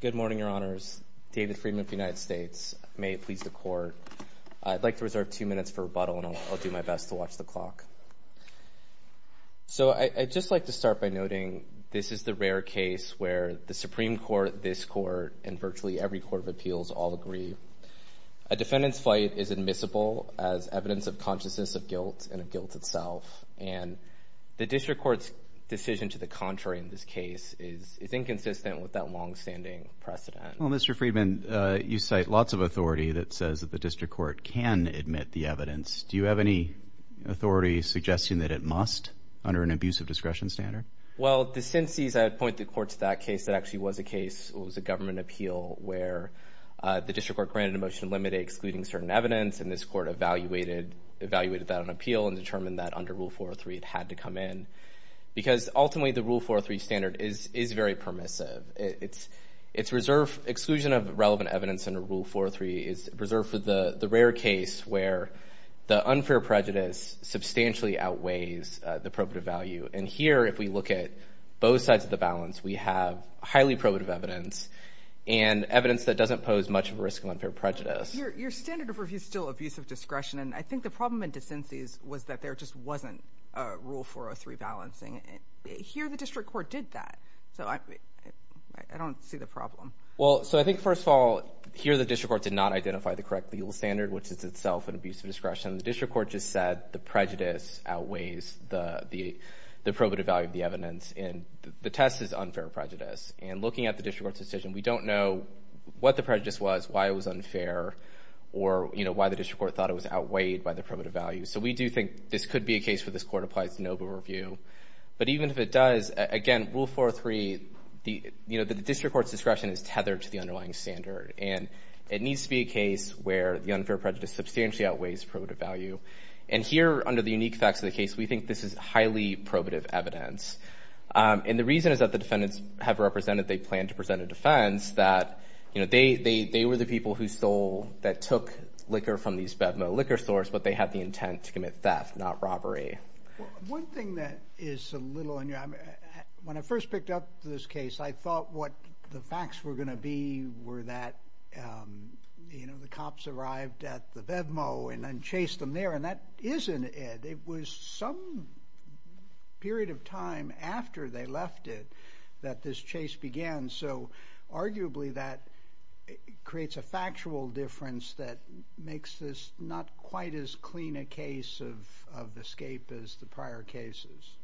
Good morning, Your Honors. David Freedman of the United States. May it please the Court. I'd like to reserve two minutes for rebuttal, and I'll do my best to watch the clock. I'd just like to start by noting this is the rare case where the Supreme Court, this Court, and virtually every Court of Appeals all agree. A defendant's fight is admissible as evidence of consciousness of guilt and of guilt itself. And the District Court's decision to the contrary in this case is inconsistent with that long-standing precedent. Well, Mr. Freedman, you cite lots of authority that says that the District Court can admit the evidence. Do you have any authority suggesting that it must under an abusive discretion standard? Well, the sin sees I'd point the Court to that case that actually was a case. It was a government appeal where the District Court granted a motion to eliminate excluding certain evidence, and this Court evaluated that on appeal and determined that under Rule 403 it had to come in. Because ultimately the Rule 403 standard is very permissive. Its exclusion of relevant evidence under Rule 403 is reserved for the rare case where the unfair prejudice substantially outweighs the probative value. And here, if we look at both sides of the balance, we have highly probative evidence and evidence that doesn't pose much of a risk of unfair prejudice. Your standard of review is still abusive discretion. And I think the problem in the sin sees was that there just wasn't a Rule 403 balancing. Here the District Court did that. So I don't see the problem. Well, so I think, first of all, here the District Court did not identify the correct legal standard, which is itself an abusive discretion. The District Court just said the prejudice outweighs the probative value of the evidence. And the test is unfair prejudice. And looking at the District Court's decision, we don't know what the prejudice was, why it was unfair, or, you know, why the District Court thought it was outweighed by the probative value. So we do think this could be a case where this Court applies the NOVA review. But even if it does, again, Rule 403, you know, the District Court's discretion is tethered to the underlying standard. And it needs to be a case where the unfair prejudice substantially outweighs probative value. And here, under the unique facts of the case, we think this is highly probative evidence. And the reason is that the defendants have represented they plan to present a defense, that, you know, they were the people who stole, that took liquor from these BevMo liquor stores, but they had the intent to commit theft, not robbery. One thing that is a little unreal, when I first picked up this case, I thought what the facts were going to be were that, you know, the cops arrived at the BevMo and then chased them there, and that isn't it. It was some period of time after they left it that this chase began. So arguably that creates a factual difference that makes this not quite as clean a case of escape as the prior cases.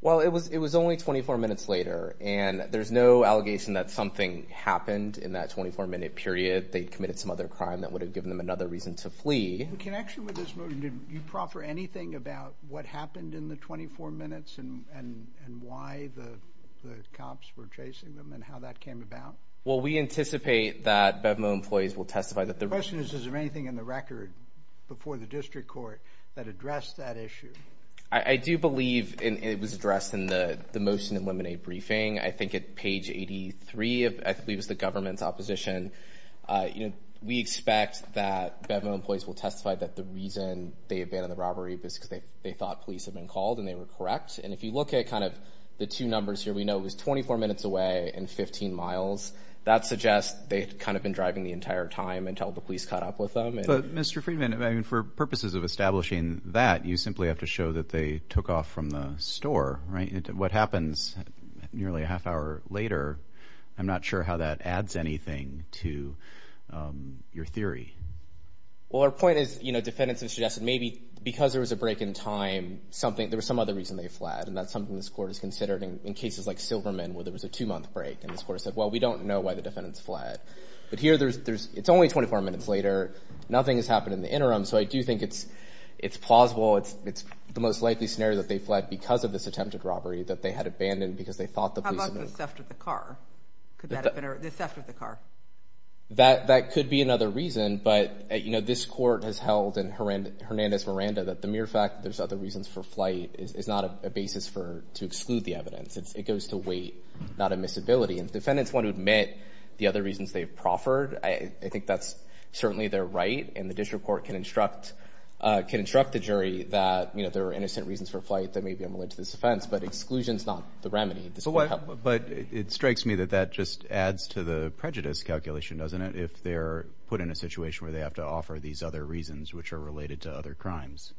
Well, it was only 24 minutes later. And there's no allegation that something happened in that 24-minute period. They committed some other crime that would have given them another reason to flee. In connection with this motion, do you proffer anything about what happened in the 24 minutes and why the cops were chasing them and how that came about? Well, we anticipate that BevMo employees will testify that the— The question is, is there anything in the record before the district court that addressed that issue? I do believe it was addressed in the motion in Lemonade Briefing, I think at page 83, I believe it was the government's opposition. We expect that BevMo employees will testify that the reason they abandoned the robbery was because they thought police had been called and they were correct. And if you look at kind of the two numbers here, we know it was 24 minutes away and 15 miles. That suggests they had kind of been driving the entire time until the police caught up with them. But, Mr. Friedman, I mean, for purposes of establishing that, you simply have to show that they took off from the store, right? What happens nearly a half hour later, I'm not sure how that adds anything to your theory. Well, our point is, you know, defendants have suggested maybe because there was a break in time, there was some other reason they fled, and that's something this court has considered in cases like Silverman where there was a two-month break. And this court said, well, we don't know why the defendants fled. But here, it's only 24 minutes later. Nothing has happened in the interim. So I do think it's plausible. It's the most likely scenario that they fled because of this attempted robbery, that they had abandoned because they thought the police had been called. How about the theft of the car? The theft of the car. That could be another reason. But, you know, this court has held in Hernandez-Miranda that the mere fact there's other reasons for flight is not a basis to exclude the evidence. It goes to weight, not admissibility. And defendants want to admit the other reasons they've proffered. I think that's certainly their right. And the district court can instruct the jury that, you know, there are innocent reasons for flight that may be unrelated to this offense, but exclusion is not the remedy. But it strikes me that that just adds to the prejudice calculation, doesn't it, if they're put in a situation where they have to offer these other reasons, which are related to other crimes?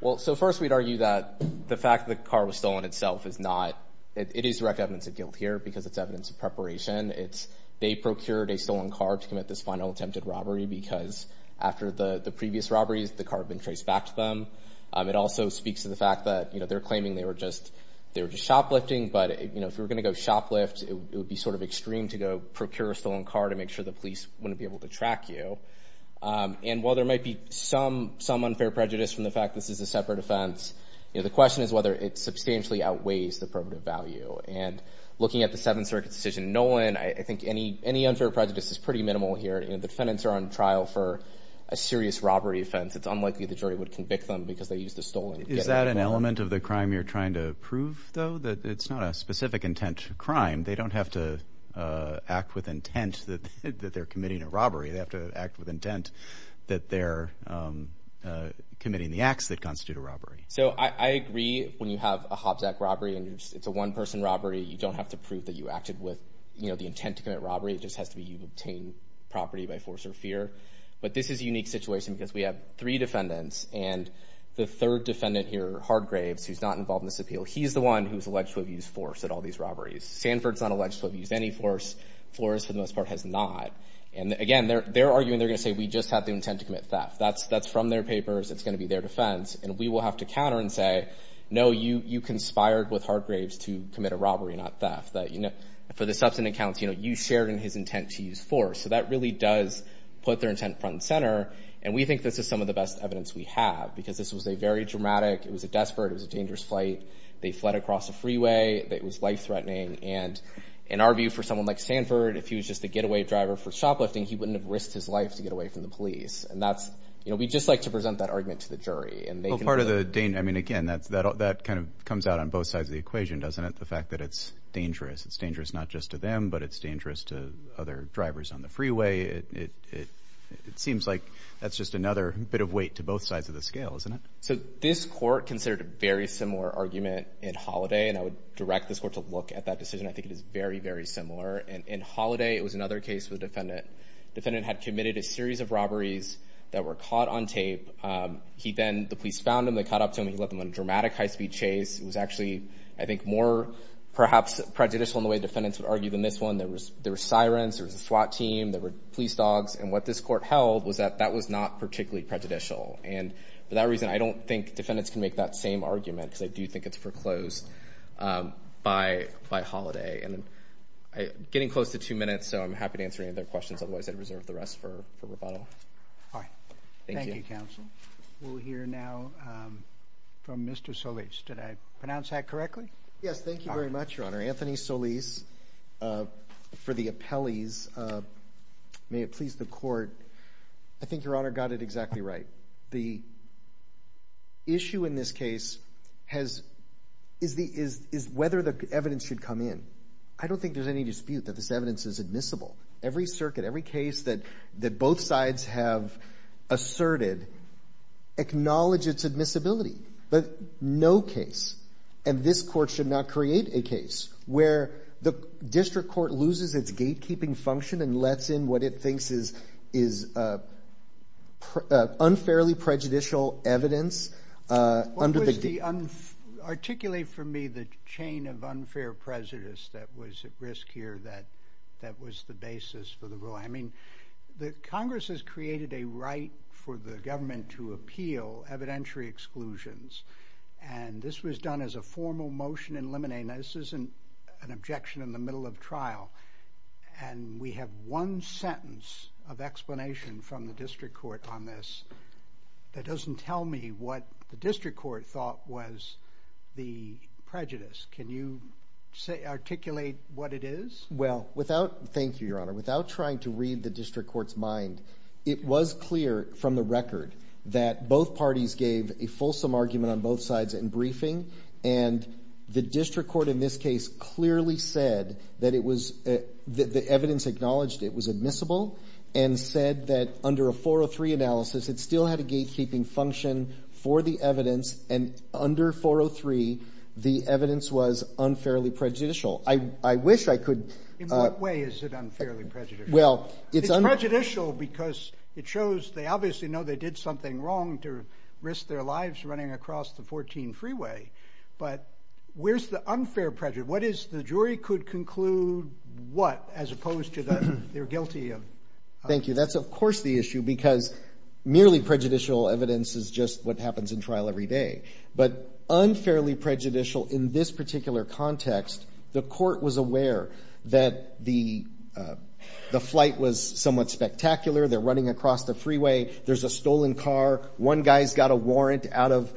Well, so first we'd argue that the fact the car was stolen itself is not... It is direct evidence of guilt here because it's evidence of preparation. They procured a stolen car to commit this final attempted robbery because after the previous robberies, the car had been traced back to them. It also speaks to the fact that, you know, they're claiming they were just shoplifting. But, you know, if you were going to go shoplift, it would be sort of extreme to go procure a stolen car to make sure the police wouldn't be able to track you. And while there might be some unfair prejudice from the fact this is a separate offense, you know, the question is whether it substantially outweighs the probative value. And looking at the Seventh Circuit decision in Nolan, I think any unfair prejudice is pretty minimal here. You know, the defendants are on trial for a serious robbery offense. It's unlikely the jury would convict them because they used a stolen... Is that an element of the crime you're trying to prove, though, that it's not a specific intent crime? They don't have to act with intent that they're committing a robbery. They have to act with intent that they're committing the acts that constitute a robbery. So I agree when you have a Hobbs Act robbery and it's a one-person robbery, you don't have to prove that you acted with, you know, the intent to commit robbery. It just has to be you've obtained property by force or fear. But this is a unique situation because we have three defendants, and the third defendant here, Hardgraves, who's not involved in this appeal, he's the one who's alleged to have used force at all these robberies. Sanford's not alleged to have used any force. Flores, for the most part, has not. And, again, they're arguing they're going to say we just have the intent to commit theft. That's from their papers. It's going to be their defense. And we will have to counter and say, no, you conspired with Hardgraves to commit a robbery, not theft. For the substantive counts, you know, you shared in his intent to use force. So that really does put their intent front and center. And we think this is some of the best evidence we have because this was a very dramatic, it was a desperate, it was a dangerous flight. They fled across a freeway. It was life-threatening. And in our view, for someone like Sanford, if he was just a getaway driver for shoplifting, he wouldn't have risked his life to get away from the police. And that's, you know, we just like to present that argument to the jury. Well, part of the danger, I mean, again, that kind of comes out on both sides of the equation, doesn't it, the fact that it's dangerous. It's dangerous not just to them, but it's dangerous to other drivers on the freeway. It seems like that's just another bit of weight to both sides of the scale, isn't it? So this court considered a very similar argument in Holiday, and I would direct this court to look at that decision. I think it is very, very similar. In Holiday, it was another case with a defendant. The defendant had committed a series of robberies that were caught on tape. He then, the police found him. They caught up to him. He led them on a dramatic high-speed chase. It was actually, I think, more perhaps prejudicial in the way defendants would argue than this one. There were sirens. There was a SWAT team. There were police dogs. And what this court held was that that was not particularly prejudicial. And for that reason, I don't think defendants can make that same argument, because I do think it's foreclosed by Holiday. And I'm getting close to two minutes, so I'm happy to answer any other questions. Otherwise, I'd reserve the rest for rebuttal. Thank you. Thank you, counsel. We'll hear now from Mr. Solis. Did I pronounce that correctly? Yes. Thank you very much, Your Honor. Anthony Solis for the appellees. May it please the Court. I think Your Honor got it exactly right. The issue in this case is whether the evidence should come in. I don't think there's any dispute that this evidence is admissible. Every circuit, every case that both sides have asserted, acknowledge its admissibility. But no case, and this court should not create a case, where the district court loses its gatekeeping function and lets in what it thinks is unfairly prejudicial evidence. Articulate for me the chain of unfair prejudice that was at risk here that was the basis for the ruling. I mean, the Congress has created a right for the government to appeal evidentiary exclusions, and this was done as a formal motion in limine. Now, this isn't an objection in the middle of trial, and we have one sentence of explanation from the district court on this that doesn't tell me what the district court thought was the prejudice. Can you articulate what it is? Thank you, Your Honor. Without trying to read the district court's mind, it was clear from the record that both parties gave a fulsome argument on both sides in briefing, and the district court in this case clearly said that the evidence acknowledged it was admissible and said that under a 403 analysis, it still had a gatekeeping function for the evidence, and under 403, the evidence was unfairly prejudicial. I wish I could... In what way is it unfairly prejudicial? Well, it's... It's prejudicial because it shows they obviously know they did something wrong to risk their lives running across the 14 freeway, but where's the unfair prejudice? What is the jury could conclude what as opposed to their guilty of... Thank you. That's, of course, the issue because merely prejudicial evidence is just what happens in trial every day, but unfairly prejudicial in this particular context, the court was aware that the flight was somewhat spectacular. They're running across the freeway. There's a stolen car. One guy's got a warrant out of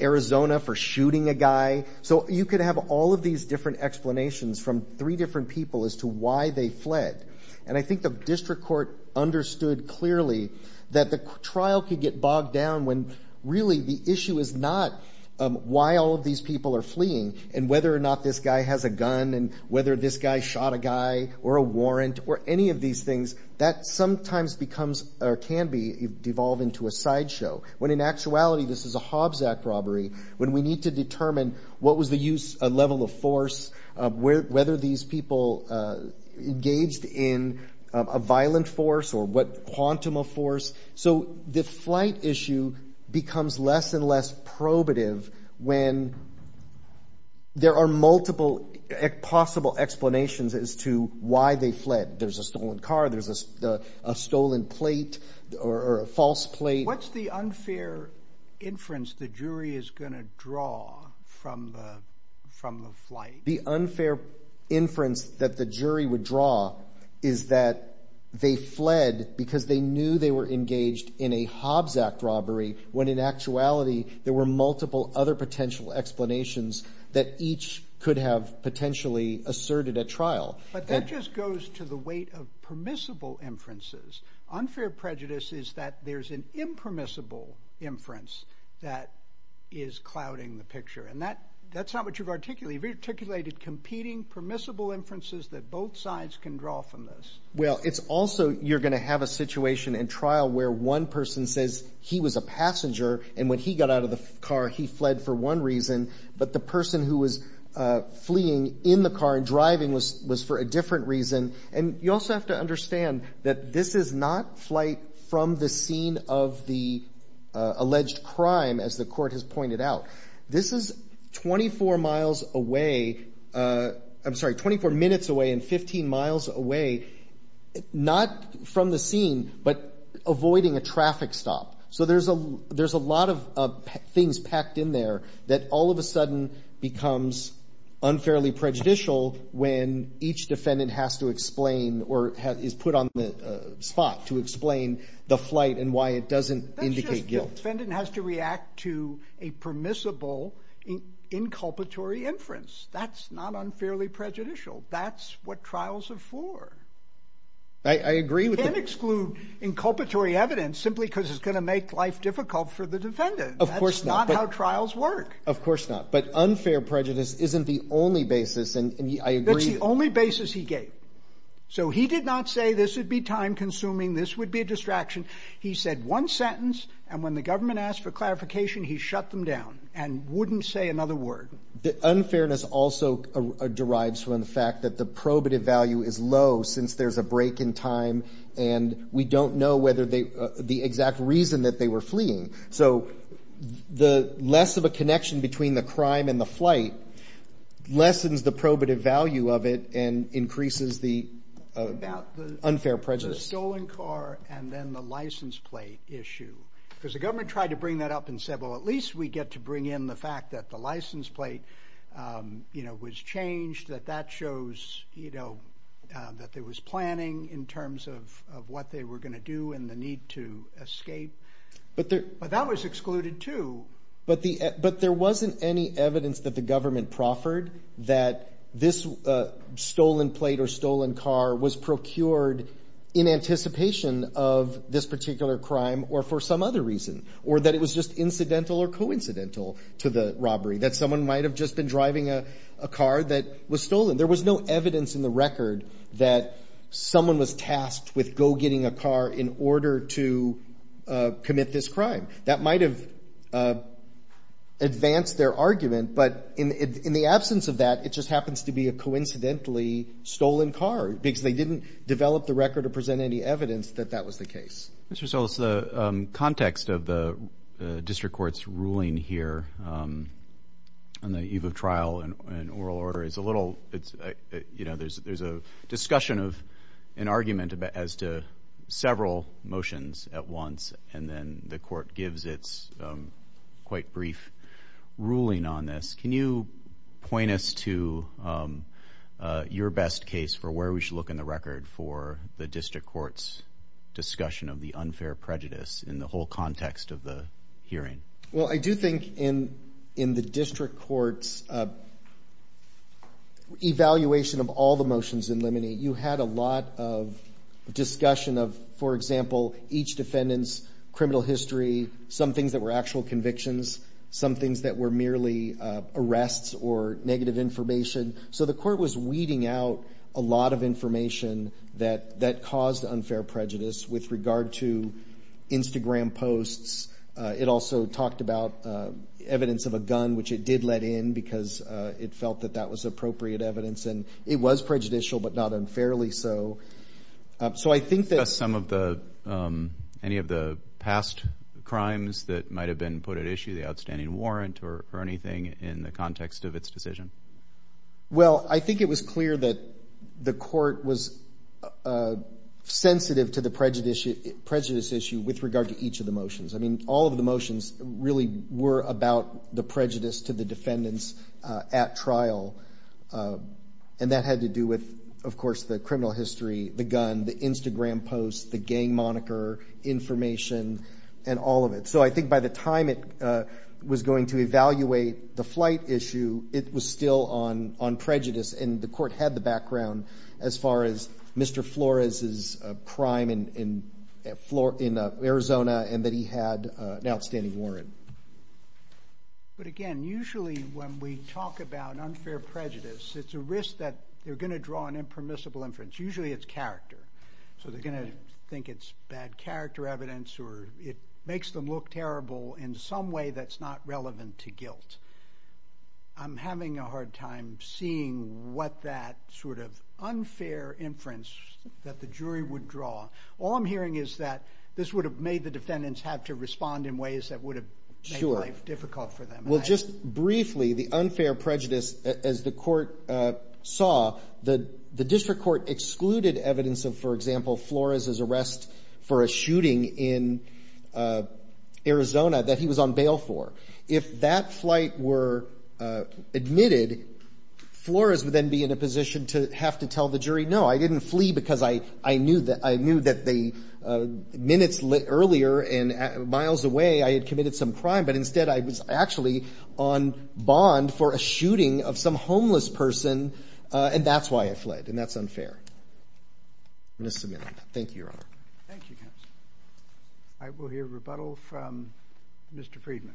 Arizona for shooting a guy. So you could have all of these different explanations from three different people as to why they fled, and I think the district court understood clearly that the trial could get bogged down when really the issue is not why all of these people are fleeing and whether or not this guy has a gun and whether this guy shot a guy or a warrant or any of these things. That sometimes becomes or can devolve into a sideshow when in actuality this is a Hobbs Act robbery when we need to determine what was the use, a level of force, whether these people engaged in a violent force or what quantum of force. So the flight issue becomes less and less probative when there are multiple possible explanations as to why they fled. There's a stolen car. There's a stolen plate or a false plate. What's the unfair inference the jury is going to draw from the flight? The unfair inference that the jury would draw is that they fled because they knew they were engaged in a Hobbs Act robbery when in actuality there were multiple other potential explanations that each could have potentially asserted at trial. But that just goes to the weight of permissible inferences. Unfair prejudice is that there's an impermissible inference that is clouding the picture. And that's not what you've articulated. You've articulated competing permissible inferences that both sides can draw from this. Well, it's also you're going to have a situation in trial where one person says he was a passenger and when he got out of the car he fled for one reason but the person who was fleeing in the car and driving was for a different reason. And you also have to understand that this is not flight from the scene of the alleged crime as the Court has pointed out. This is 24 miles away. I'm sorry, 24 minutes away and 15 miles away, not from the scene but avoiding a traffic stop. So there's a lot of things packed in there that all of a sudden becomes unfairly prejudicial when each defendant has to explain or is put on the spot to explain the flight and why it doesn't indicate guilt. The defendant has to react to a permissible inculpatory inference. That's not unfairly prejudicial. That's what trials are for. I agree with that. You can't exclude inculpatory evidence simply because it's going to make life difficult for the defendant. Of course not. That's not how trials work. Of course not. But unfair prejudice isn't the only basis, and I agree. That's the only basis he gave. So he did not say this would be time-consuming, this would be a distraction. He said one sentence, and when the government asked for clarification, he shut them down and wouldn't say another word. The unfairness also derives from the fact that the probative value is low since there's a break in time, and we don't know whether they – the exact reason that they were fleeing. So the less of a connection between the crime and the flight lessens the probative value of it and increases the unfair prejudice. What about the stolen car and then the license plate issue? Because the government tried to bring that up and said, well, at least we get to bring in the fact that the license plate was changed, that that shows that there was planning in terms of what they were going to do and the need to escape. But that was excluded, too. But there wasn't any evidence that the government proffered that this stolen plate or stolen car was procured in anticipation of this particular crime or for some other reason or that it was just incidental or coincidental to the robbery, that someone might have just been driving a car that was stolen. There was no evidence in the record that someone was tasked with go-getting a car in order to commit this crime. That might have advanced their argument, but in the absence of that, it just happens to be a coincidentally stolen car because they didn't develop the record or present any evidence that that was the case. Mr. Solis, the context of the district court's ruling here on the eve of trial and oral order is a little – there's a discussion of an argument as to several motions at once and then the court gives its quite brief ruling on this. Can you point us to your best case for where we should look in the record for the district court's discussion of the unfair prejudice in the whole context of the hearing? Well, I do think in the district court's evaluation of all the motions in limine, you had a lot of discussion of, for example, each defendant's criminal history, some things that were actual convictions, some things that were merely arrests or negative information. So the court was weeding out a lot of information that caused unfair prejudice with regard to Instagram posts. It also talked about evidence of a gun, which it did let in because it felt that that was appropriate evidence. And it was prejudicial, but not unfairly so. So I think that some of the – any of the past crimes that might have been put at issue, the outstanding warrant or anything in the context of its decision. Well, I think it was clear that the court was sensitive to the prejudice issue with regard to each of the motions. I mean, all of the motions really were about the prejudice to the defendants at trial, and that had to do with, of course, the criminal history, the gun, the Instagram posts, the gang moniker, information, and all of it. So I think by the time it was going to evaluate the flight issue, it was still on prejudice, and the court had the background as far as Mr. Flores' crime in Arizona and that he had an outstanding warrant. But again, usually when we talk about unfair prejudice, it's a risk that they're going to draw an impermissible inference. Usually it's character. So they're going to think it's bad character evidence or it makes them look terrible in some way that's not relevant to guilt. I'm having a hard time seeing what that sort of unfair inference that the jury would draw. All I'm hearing is that this would have made the defendants have to respond in ways that would have made life difficult for them. Well, just briefly, the unfair prejudice, as the court saw, the district court excluded evidence of, for example, Flores' arrest for a shooting in Arizona that he was on bail for. If that flight were admitted, Flores would then be in a position to have to tell the jury, no, I didn't flee because I knew that the minutes earlier and miles away I had committed some crime, but instead I was actually on bond for a shooting of some homeless person and that's why I fled and that's unfair. I'm just submitting. Thank you, Your Honor. Thank you, counsel. I will hear rebuttal from Mr. Friedman.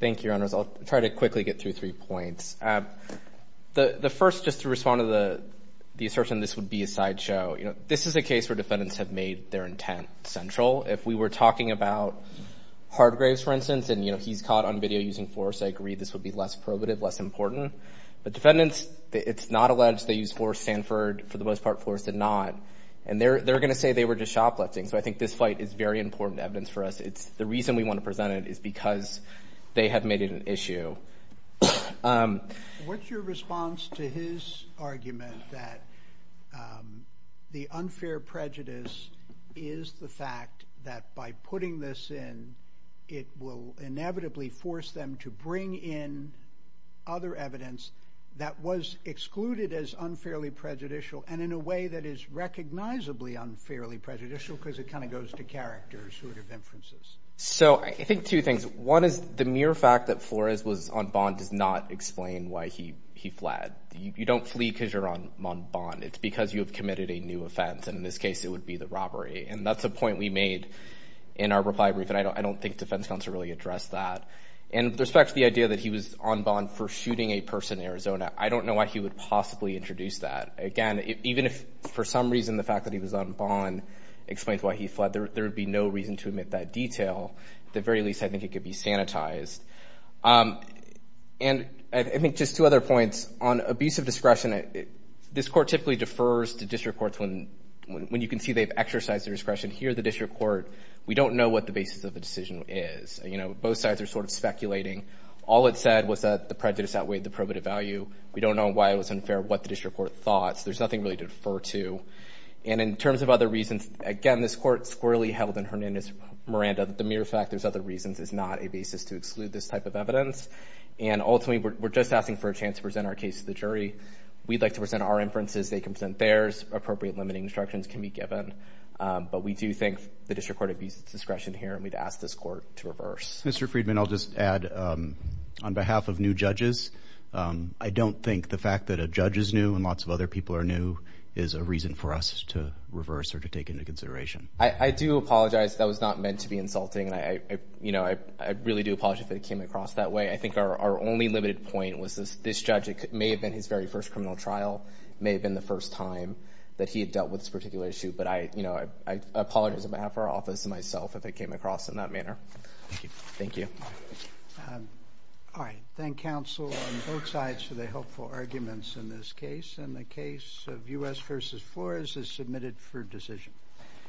Thank you, Your Honors. I'll try to quickly get through three points. The first, just to respond to the assertion this would be a sideshow, this is a case where defendants have made their intent central. If we were talking about Hargraves, for instance, and he's caught on video using Flores, I agree this would be less probative, less important. But defendants, it's not alleged they used Flores, Sanford, for the most part Flores did not, and they're going to say they were just shoplifting. So I think this fight is very important evidence for us. The reason we want to present it is because they have made it an issue. What's your response to his argument that the unfair prejudice is the fact that by putting this in, it will inevitably force them to bring in other evidence that was excluded as unfairly prejudicial and in a way that is recognizably unfairly prejudicial because it kind of goes to character sort of inferences? So I think two things. One is the mere fact that Flores was on bond does not explain why he fled. You don't flee because you're on bond. It's because you have committed a new offense, and in this case it would be the robbery. And that's a point we made in our reply brief, and I don't think defense counsel really addressed that. And with respect to the idea that he was on bond for shooting a person in Arizona, I don't know why he would possibly introduce that. Again, even if for some reason the fact that he was on bond explains why he fled, there would be no reason to omit that detail. At the very least, I think it could be sanitized. And I think just two other points. On abusive discretion, this court typically defers to district courts when you can see they've exercised their discretion. Here, the district court, we don't know what the basis of the decision is. You know, both sides are sort of speculating. All it said was that the prejudice outweighed the probative value. We don't know why it was unfair, what the district court thought. There's nothing really to defer to. And in terms of other reasons, again, this court squarely held in Hernandez-Miranda that the mere fact there's other reasons is not a basis to exclude this type of evidence. And ultimately, we're just asking for a chance to present our case to the jury. We'd like to present our inferences. They can present theirs. Appropriate limiting instructions can be given. But we do think the district court abused its discretion here, and we'd ask this court to reverse. Mr. Friedman, I'll just add, on behalf of new judges, I don't think the fact that a judge is new and lots of other people are new is a reason for us to reverse or to take into consideration. I do apologize. That was not meant to be insulting. You know, I really do apologize if it came across that way. I think our only limited point was this judge may have been his very first criminal trial, may have been the first time that he had dealt with this particular issue, but I apologize on behalf of our office and myself if it came across in that manner. Thank you. Thank you. All right. Thank counsel on both sides for the helpful arguments in this case. And the case of U.S. v. Flores is submitted for decision.